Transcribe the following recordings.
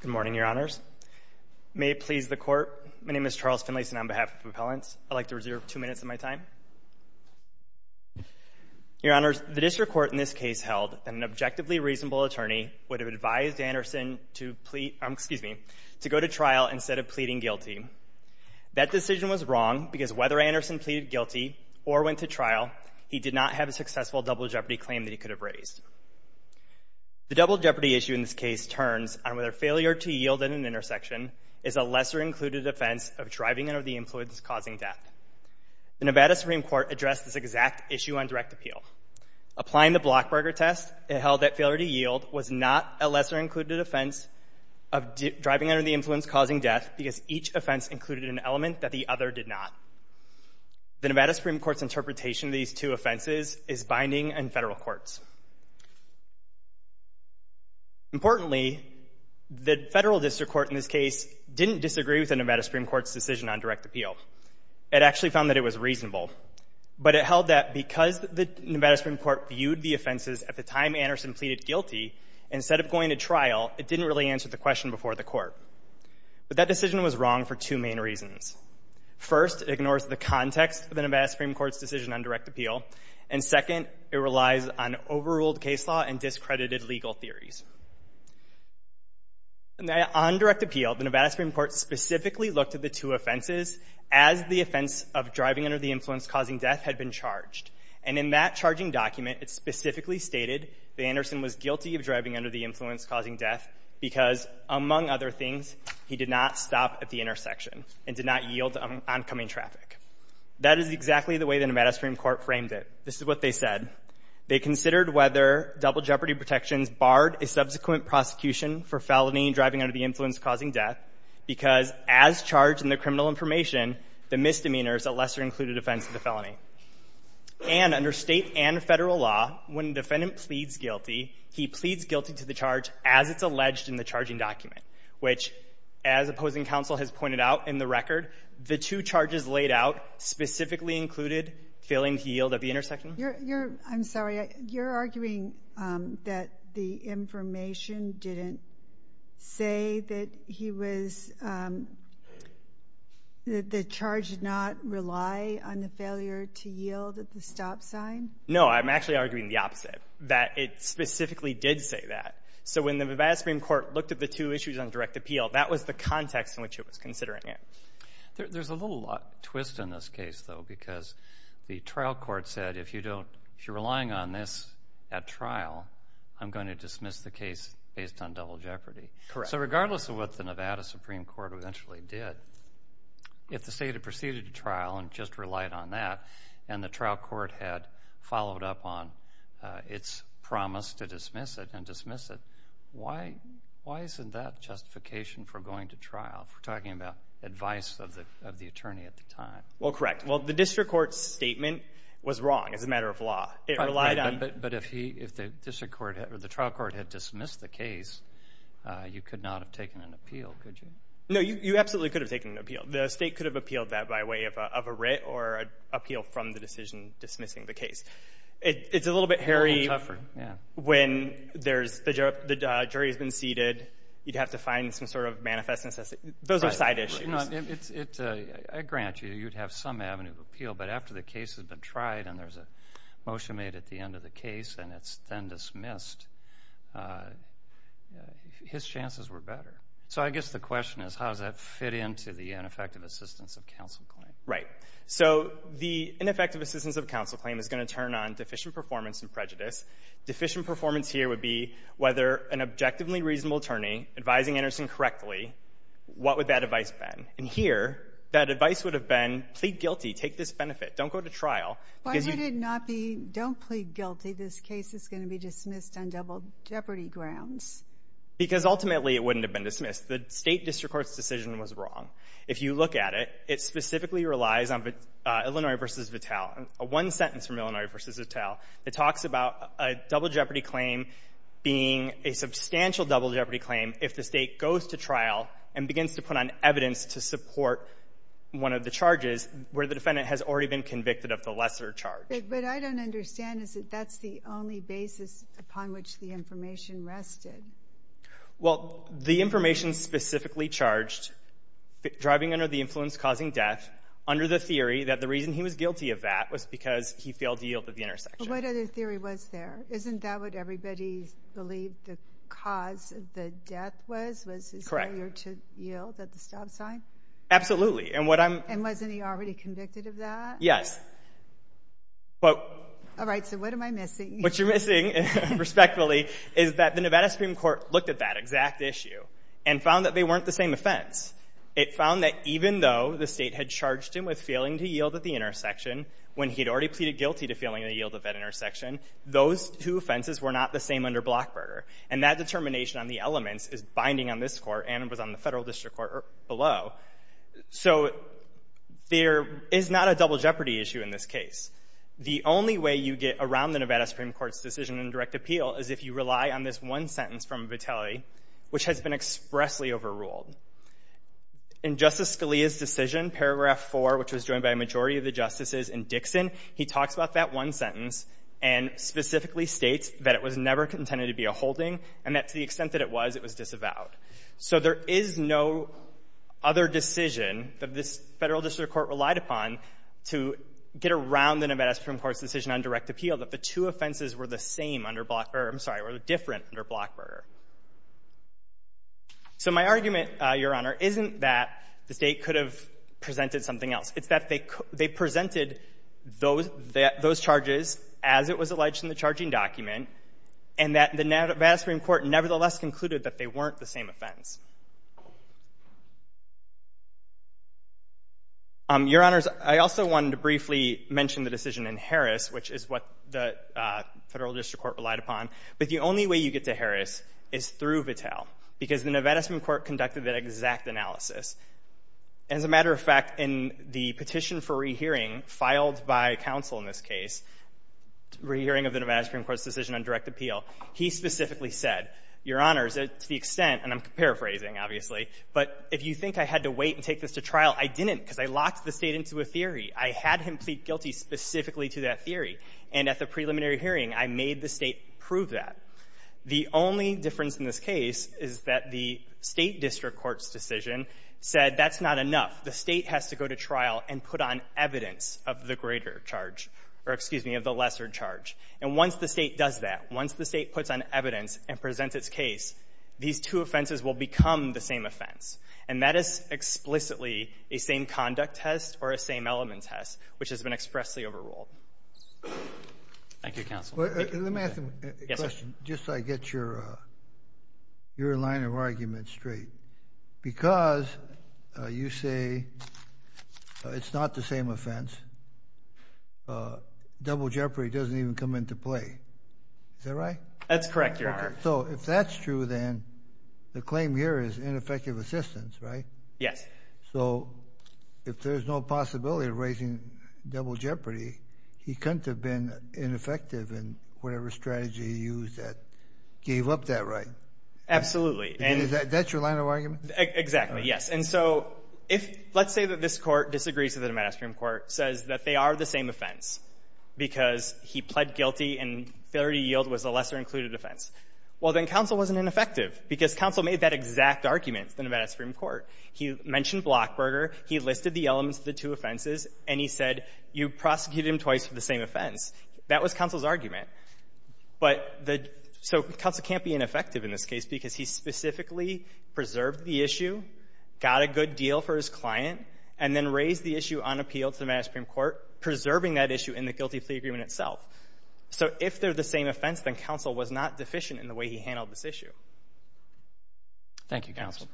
Good morning, your honors. May it please the court, my name is Charles Finlayson on behalf of Appellants. I'd like to reserve two minutes of my time. Your honors, the district court in this case held an objectively reasonable attorney would have advised Anderson to go to trial instead of pleading guilty. That decision was wrong because whether Anderson pleaded guilty or went to trial, he did not have a successful double jeopardy claim that he failure to yield at an intersection is a lesser included offense of driving under the influence causing death. The Nevada Supreme Court addressed this exact issue on direct appeal. Applying the Blockberger test, it held that failure to yield was not a lesser included offense of driving under the influence causing death because each offense included an element that the other did not. The Nevada Supreme Court's interpretation of these two offenses is binding in federal courts. Importantly, the federal district court in this case didn't disagree with the Nevada Supreme Court's decision on direct appeal. It actually found that it was reasonable, but it held that because the Nevada Supreme Court viewed the offenses at the time Anderson pleaded guilty, instead of going to trial, it didn't really answer the question before the court. But that decision was wrong for two main reasons. First, it ignores the context of the Nevada Supreme Court. It relies on overruled case law and discredited legal theories. On direct appeal, the Nevada Supreme Court specifically looked at the two offenses as the offense of driving under the influence causing death had been charged. And in that charging document, it specifically stated that Anderson was guilty of driving under the influence causing death because, among other things, he did not stop at the intersection and did not yield to oncoming traffic. That is exactly the way the Nevada Supreme Court framed it. This is what they said. They considered whether double jeopardy protections barred a subsequent prosecution for felony driving under the influence causing death because, as charged in the criminal information, the misdemeanor is a lesser included offense of the felony. And under State and Federal law, when a defendant pleads guilty, he pleads guilty to the charge as it's alleged in the charging document, which, as opposing counsel has pointed out in the record, the two charges laid out specifically included failing to yield at the intersection. You're — you're — I'm sorry. You're arguing that the information didn't say that he was — that the charge did not rely on the failure to yield at the stop sign? No. I'm actually arguing the opposite, that it specifically did say that. So when the Nevada Supreme Court looked at the two issues on direct appeal, that was the context in which it was considering it. There's a little twist in this case, though, because the trial court said, if you don't — if you're relying on this at trial, I'm going to dismiss the case based on double jeopardy. Correct. So regardless of what the Nevada Supreme Court eventually did, if the State had proceeded to trial and just relied on that, and the trial court had followed up on its promise to dismiss it and dismiss it, why — why isn't that justification for going to trial, if we're talking about advice of the — of the attorney at the time? Well, correct. Well, the district court's statement was wrong as a matter of law. It relied on — But if he — if the district court — or the trial court had dismissed the case, you could not have taken an appeal, could you? No, you absolutely could have taken an appeal. The State could have appealed that by way of a writ or an appeal from the decision dismissing the case. It's a little bit hairy — A little tougher, yeah. — when there's — the jury's been seated. You'd have to find some sort of manifest necessity. Those are side issues. Right. Right. You know, it's — I grant you, you'd have some avenue of appeal. But after the case has been tried and there's a motion made at the end of the case and it's then dismissed, his chances were better. So I guess the question is, how does that fit into the ineffective assistance of counsel claim? Right. So the ineffective assistance of counsel claim is going to turn on deficient performance in prejudice. Deficient performance here would be whether an objectively reasonable attorney advising Anderson correctly, what would that advice have been? And here, that advice would have been, plead guilty, take this benefit, don't go to trial. Why would it not be, don't plead guilty, this case is going to be dismissed on double jeopardy grounds? Because ultimately, it wouldn't have been dismissed. The State district court's decision was wrong. If you look at it, it specifically relies on Illinois v. Vitale. A one-sentence from Illinois v. Vitale, it talks about a double jeopardy claim being a substantial double jeopardy claim if the State goes to trial and begins to put on evidence to support one of the charges where the defendant has already been convicted of the lesser charge. But what I don't understand is that that's the only basis upon which the information rested. Well, the information specifically charged, driving under the influence causing death, under the theory that the reason he was guilty of that was because he failed to yield at the intersection. But what other theory was there? Isn't that what everybody believed the cause of the death was, was his failure to yield at the stop sign? Absolutely. And what I'm... And wasn't he already convicted of that? Yes. But... All right, so what am I missing? What you're missing, respectfully, is that the Nevada Supreme Court looked at that exact issue and found that they weren't the same offense. It found that even though the State had charged him with failing to yield at the intersection when he had already pleaded guilty to failing to yield at that intersection, those two offenses were not the same under Blockburger. And that determination on the elements is binding on this Court and was on the Federal District Court below. So there is not a double jeopardy issue in this case. The only way you get around the Nevada Supreme Court's decision in direct appeal is if you rely on this one sentence from Vitale, which has been expressly overruled. In Justice Scalia's decision, paragraph 4, which was joined by a majority of the justices in Dixon, he talks about that one sentence and specifically states that it was never intended to be a holding and that to the extent that it was, it was disavowed. So there is no other decision that this Federal District Court relied upon to get around the Nevada Supreme Court's decision on direct appeal that the two offenses were the same under Blockburger or, I'm sorry, were different under Blockburger. So my argument, Your Honor, isn't that the State could have presented something else. It's that they presented those charges as it was alleged in the charging document and that the Nevada Supreme Court nevertheless concluded that they weren't the same offense. Your Honors, I also wanted to briefly mention the decision in Harris, which is what the Federal District Court relied upon. But the only way you get to Harris is through Vitale, because the Nevada Supreme Court conducted that exact analysis. As a matter of fact, in the petition for rehearing filed by counsel in this case, rehearing of the Nevada Supreme Court's decision on direct appeal, he specifically said, Your Honors, to the extent, and I'm paraphrasing, obviously, but if you think I had to wait and take this to trial, I didn't because I locked the State into a theory. I had him plead guilty specifically to that theory. And at the preliminary hearing, I made the State prove that. The only difference in this case is that the State district court's decision said that's not enough. The State has to go to trial and put on evidence of the greater charge or, excuse me, of the lesser charge. And once the State does that, once the State puts on evidence and presents its case, these two offenses will become the same offense. And that is explicitly a same-conduct test or a same-element test, which has been expressly overruled. Thank you, counsel. Let me ask a question just so I get your line of argument straight. Because you say it's not the same offense, double jeopardy doesn't even come into play. Is that right? That's correct, Your Honor. So if that's true, then the claim here is ineffective assistance, right? Yes. So if there's no possibility of raising double jeopardy, he couldn't have been ineffective in whatever strategy he used that gave up that right? Absolutely. And is that your line of argument? Exactly, yes. And so if let's say that this Court disagrees with the Nevada Supreme Court, says that they are the same offense because he pled guilty and failure to yield was a lesser-included offense, well, then counsel wasn't ineffective because counsel made that exact argument in the Nevada Supreme Court. He mentioned Blockberger, he listed the elements of the two offenses, and he said you prosecuted him twice for the same offense. That was counsel's argument. But the so counsel can't be ineffective in this case because he specifically preserved the issue, got a good deal for his client, and then raised the issue unappealed to the Nevada Supreme Court, preserving that issue in the guilty plea agreement itself. So if they're the same offense, then counsel was not deficient in the way he handled this issue. Thank you, counsel.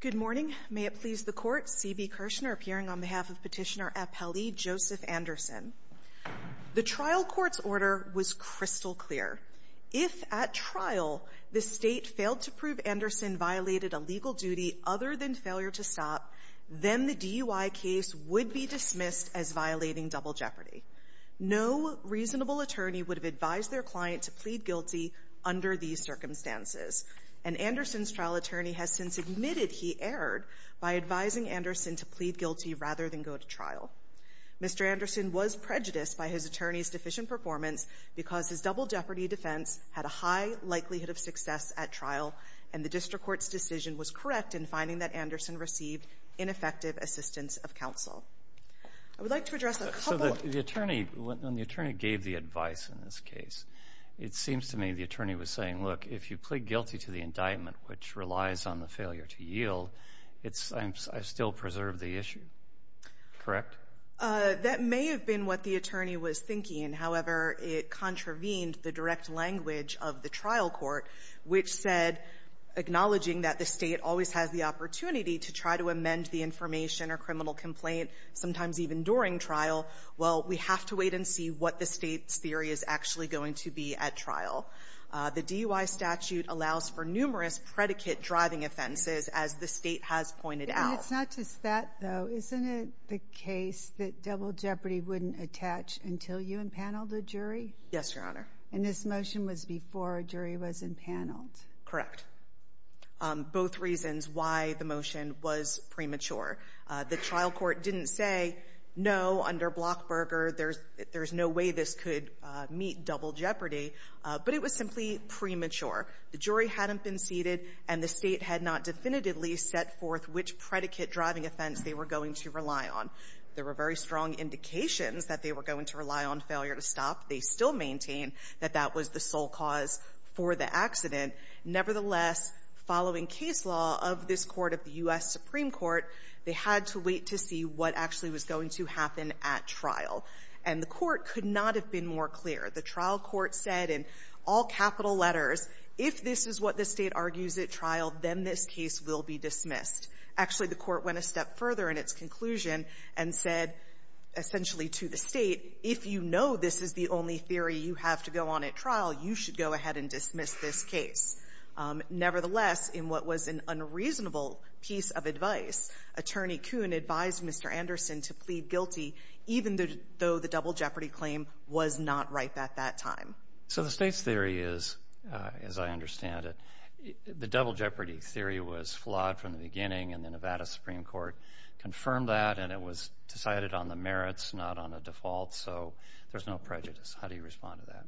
Good morning. May it please the Court, C.B. Kirshner appearing on behalf of Petitioner Appelli, Joseph Anderson. The trial court's order was crystal clear. If at trial the State failed to prove Anderson violated a legal duty other than failure to stop, then the DUI case would be dismissed as violating double jeopardy. No reasonable attorney would have advised their client to plead guilty under these circumstances, and Anderson's trial attorney has since admitted he erred by advising Anderson to plead guilty rather than go to trial. Mr. Anderson was prejudiced by his attorney's deficient performance because his double jeopardy defense had a high likelihood of success at trial, and the district court's decision was correct in finding that Anderson received ineffective assistance of counsel. I would like to address a couple of the attorney. When the attorney gave the advice in this case, it seems to me the attorney was saying, look, if you plead guilty to the indictment, which relies on the failure to yield, it's — I still preserve the issue. Correct? That may have been what the attorney was thinking. However, it contravened the direct language of the trial court, which said, acknowledging that the State always has the opportunity to try to amend the information or criminal complaint, sometimes even during trial, well, we have to wait and see what the State's theory is actually going to be at trial. The DUI statute allows for numerous predicate-driving offenses, as the State has pointed out. And it's not just that, though. Isn't it the case that double jeopardy wouldn't attach until you impaneled a jury? Yes, Your Honor. And this motion was before a jury was impaneled? Correct. Both reasons why the motion was premature. The trial court didn't say, no, under Blockberger, there's no way this could meet double jeopardy, but it was simply premature. The jury hadn't been seated, and the State had not definitively set forth which predicate-driving offense they were going to rely on. There were very strong indications that they were going to rely on failure to stop. They still maintain that that was the sole cause for the accident. Nevertheless, following case law of this Court of the U.S. Supreme Court, they had to wait to see what actually was going to happen at trial. And the Court could not have been more clear. The trial court said in all capital letters, if this is what the State argues at trial, then this case will be dismissed. Actually, the Court went a step further in its conclusion and said essentially to the State, if you know this is the only theory you have to go on at trial, you should go ahead and dismiss this case. Nevertheless, in what was an unreasonable piece of advice, Attorney Coon advised Mr. Anderson to plead guilty even though the double jeopardy claim was not right at that time. So the State's theory is, as I understand it, the double jeopardy theory was flawed from the beginning, and the Nevada Supreme Court confirmed that, and it was decided on the merits, not on a default. So there's no prejudice. How do you respond to that?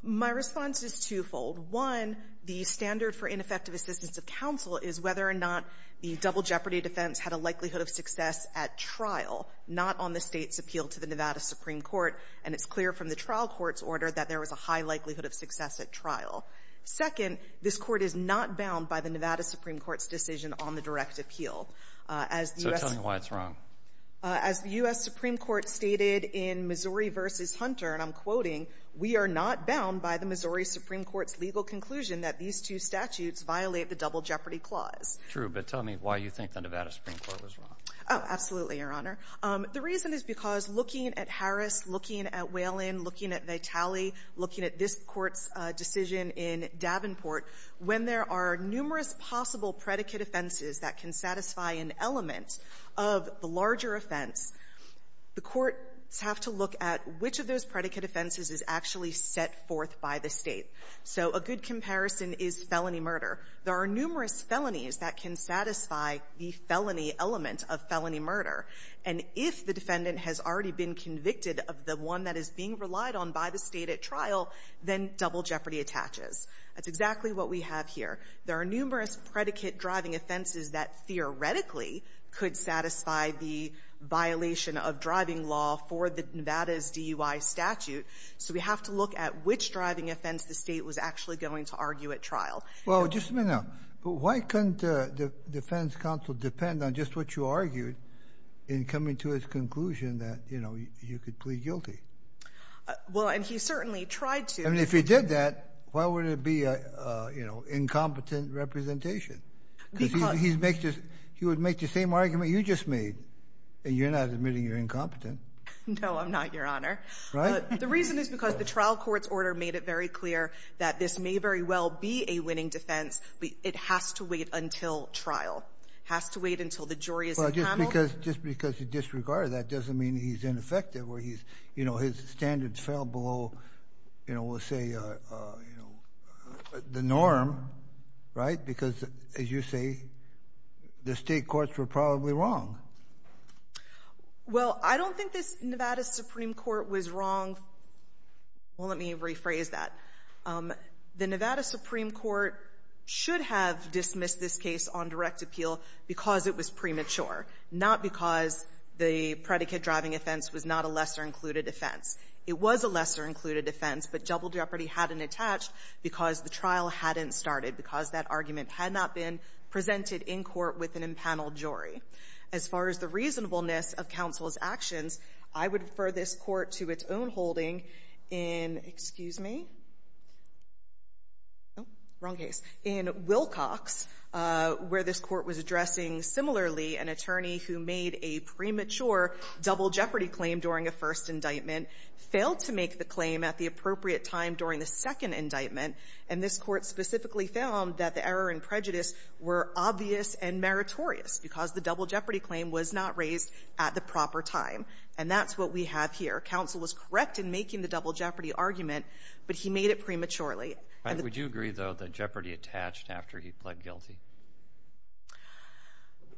My response is twofold. One, the standard for ineffective assistance of counsel is whether or not the double jeopardy theory was flawed. It's clear from the trial court's order that there was a high likelihood of success at trial, not on the State's appeal to the Nevada Supreme Court, and it's clear from the trial court's order that there was a high likelihood of success at trial. Second, this Court is not bound by the Nevada Supreme Court's decision on the direct appeal. As the U.S. So tell me why it's wrong. As the U.S. Supreme Court stated in Missouri v. Hunter, and I'm quoting, we are not bound by the Missouri Supreme Court's legal conclusion that these two statutes violate the double jeopardy theory. Absolutely, Your Honor. The reason is because looking at Harris, looking at Whalen, looking at Vitale, looking at this Court's decision in Davenport, when there are numerous possible predicate offenses that can satisfy an element of the larger offense, the courts have to look at which of those predicate offenses is actually set forth by the State. So a good comparison is felony murder. There are numerous felonies that can satisfy the felony element of felony murder and if the defendant has already been convicted of the one that is being relied on by the State at trial, then double jeopardy attaches. That's exactly what we have here. There are numerous predicate driving offenses that theoretically could satisfy the violation of driving law for the Nevada's DUI statute, so we have to look at which driving offense the State was actually going to argue at trial. Well, just a minute. Yeah, but why couldn't the defense counsel depend on just what you argued in coming to his conclusion that, you know, you could plead guilty? Well, and he certainly tried to. I mean, if he did that, why would it be, you know, incompetent representation? Because he would make the same argument you just made. You're not admitting you're incompetent. No, I'm not, Your Honor. The reason is because the trial court's order made it very clear that this may very well be a winning defense, but it has to wait until trial. It has to wait until the jury is paneled. Well, just because he disregarded that doesn't mean he's ineffective. You know, his standards fell below, you know, we'll say the norm, right? Because, as you say, the State courts were probably wrong. Well, I don't think this Nevada Supreme Court was wrong. Well, let me rephrase that. The Nevada Supreme Court should have dismissed this case on direct appeal because it was premature, not because the predicate-driving offense was not a lesser-included offense. It was a lesser-included offense, but double jeopardy hadn't attached because the trial hadn't started, because that argument had not been presented in court with an impaneled jury. As far as the reasonableness of counsel's actions, I would refer this court to its own holding in, excuse me, wrong case, in Wilcox, where this court was addressing similarly an attorney who made a premature double jeopardy claim during a first indictment, failed to make the claim at the appropriate time during the second indictment, and this court specifically found that the error and prejudice were obvious and meritorious because the double jeopardy claim was not raised at the proper time. And that's what we have here. Counsel was correct in making the double jeopardy argument, but he made it prematurely. Would you agree, though, that jeopardy attached after he pled guilty?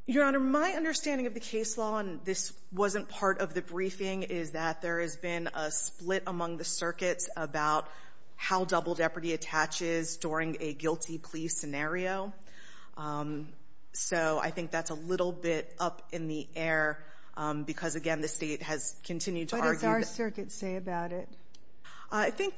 Your Honor, my understanding of the case law, and this wasn't part of the briefing, is that there has been a split among the circuits about how double jeopardy attaches during a guilty plea scenario. So I think that's a little bit up in the air because, again, the State has continued to argue that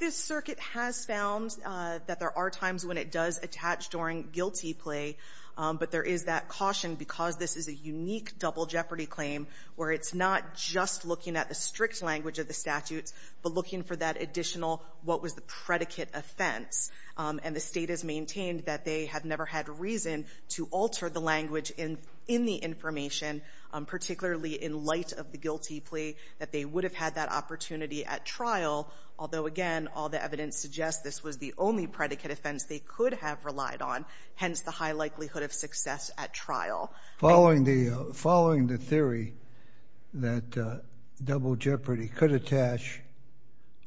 the circuit has found that there are times when it does attach during guilty plea, but there is that caution because this is a unique double jeopardy claim where it's not just looking at the strict language of the statutes but looking for that additional what was the predicate offense. And the State has maintained that they have never had reason to alter the language in the information, particularly in light of the guilty plea, that they would have had that opportunity at trial, although, again, all the evidence suggests this was the only predicate offense they could have relied on, hence the high likelihood of success at trial. Following the theory that double jeopardy could attach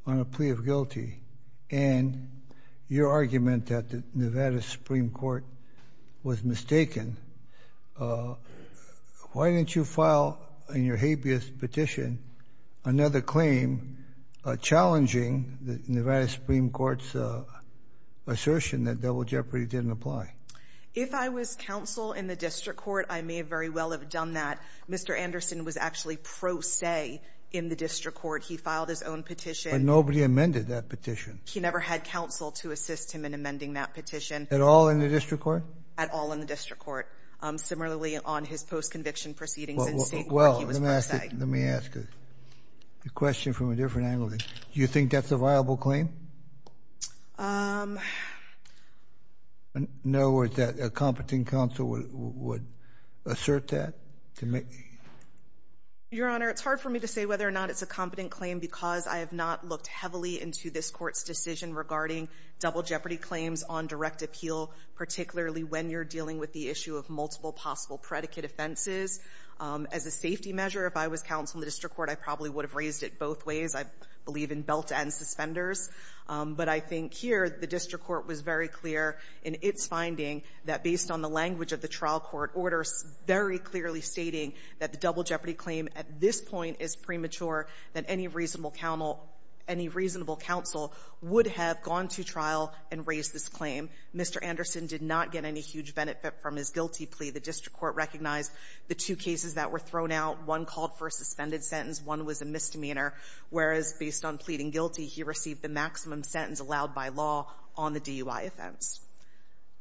on a plea of guilty and your argument that the Nevada Supreme Court was mistaken, why didn't you file in your habeas petition another claim challenging Nevada Supreme Court's assertion that double jeopardy didn't apply? If I was counsel in the district court, I may very well have done that. Mr. Anderson was actually pro se in the district court. He filed his own petition. But nobody amended that petition. He never had counsel to assist him in amending that petition. At all in the district court? At all in the district court. Similarly, on his post-conviction proceedings. Well, let me ask you a question from a different angle. Do you think that's a viable claim? In other words, that a competent counsel would assert that? Your Honor, it's hard for me to say whether or not it's a competent claim because I have not looked heavily into this Court's decision regarding double jeopardy claims on direct appeal, particularly when you're dealing with the issue of multiple possible predicate offenses. As a safety measure, if I was counsel in the district court, I probably would have raised it both ways. I believe in belt and suspenders. But I think here the district court was very clear in its finding that based on the language of the trial court order, very clearly stating that the double jeopardy claim at this point is premature, that any reasonable counsel would have gone to trial and raised this claim. Mr. Anderson did not get any huge benefit from his guilty plea. The district court recognized the two cases that were thrown out. One called for a suspended sentence. One was a misdemeanor, whereas based on pleading guilty, he received the maximum sentence allowed by law on the DUI offense.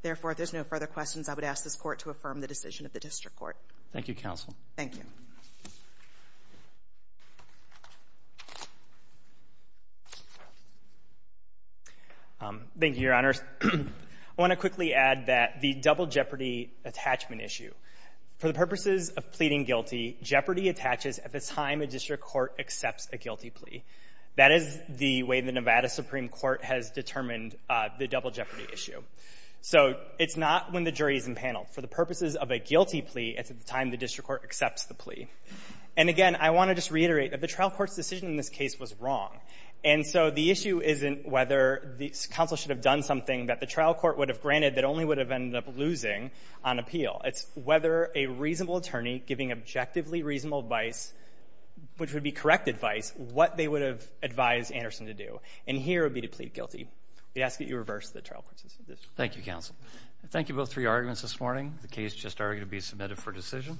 Therefore, if there's no further questions, I would ask this Court to affirm the decision of the district court. Thank you, counsel. Thank you. Thank you, Your Honors. I want to quickly add that the double jeopardy attachment issue, for the purposes of pleading guilty, jeopardy attaches at the time a district court accepts a guilty plea. That is the way the Nevada Supreme Court has determined the double jeopardy issue. So it's not when the jury is in panel. For the purposes of a guilty plea, it's at the time the district court accepts the plea. And again, I want to just reiterate that the trial court's decision in this case was wrong. And so the issue isn't whether counsel should have done something that the trial court would have granted that only would have ended up losing on appeal. It's whether a reasonable attorney giving objectively reasonable advice, which would be correct advice, what they would have advised Anderson to do. And here it would be to plead guilty. We ask that you reverse the trial court's decision. Thank you, counsel. Thank you both for your arguments this morning. The case just argued to be submitted for decision.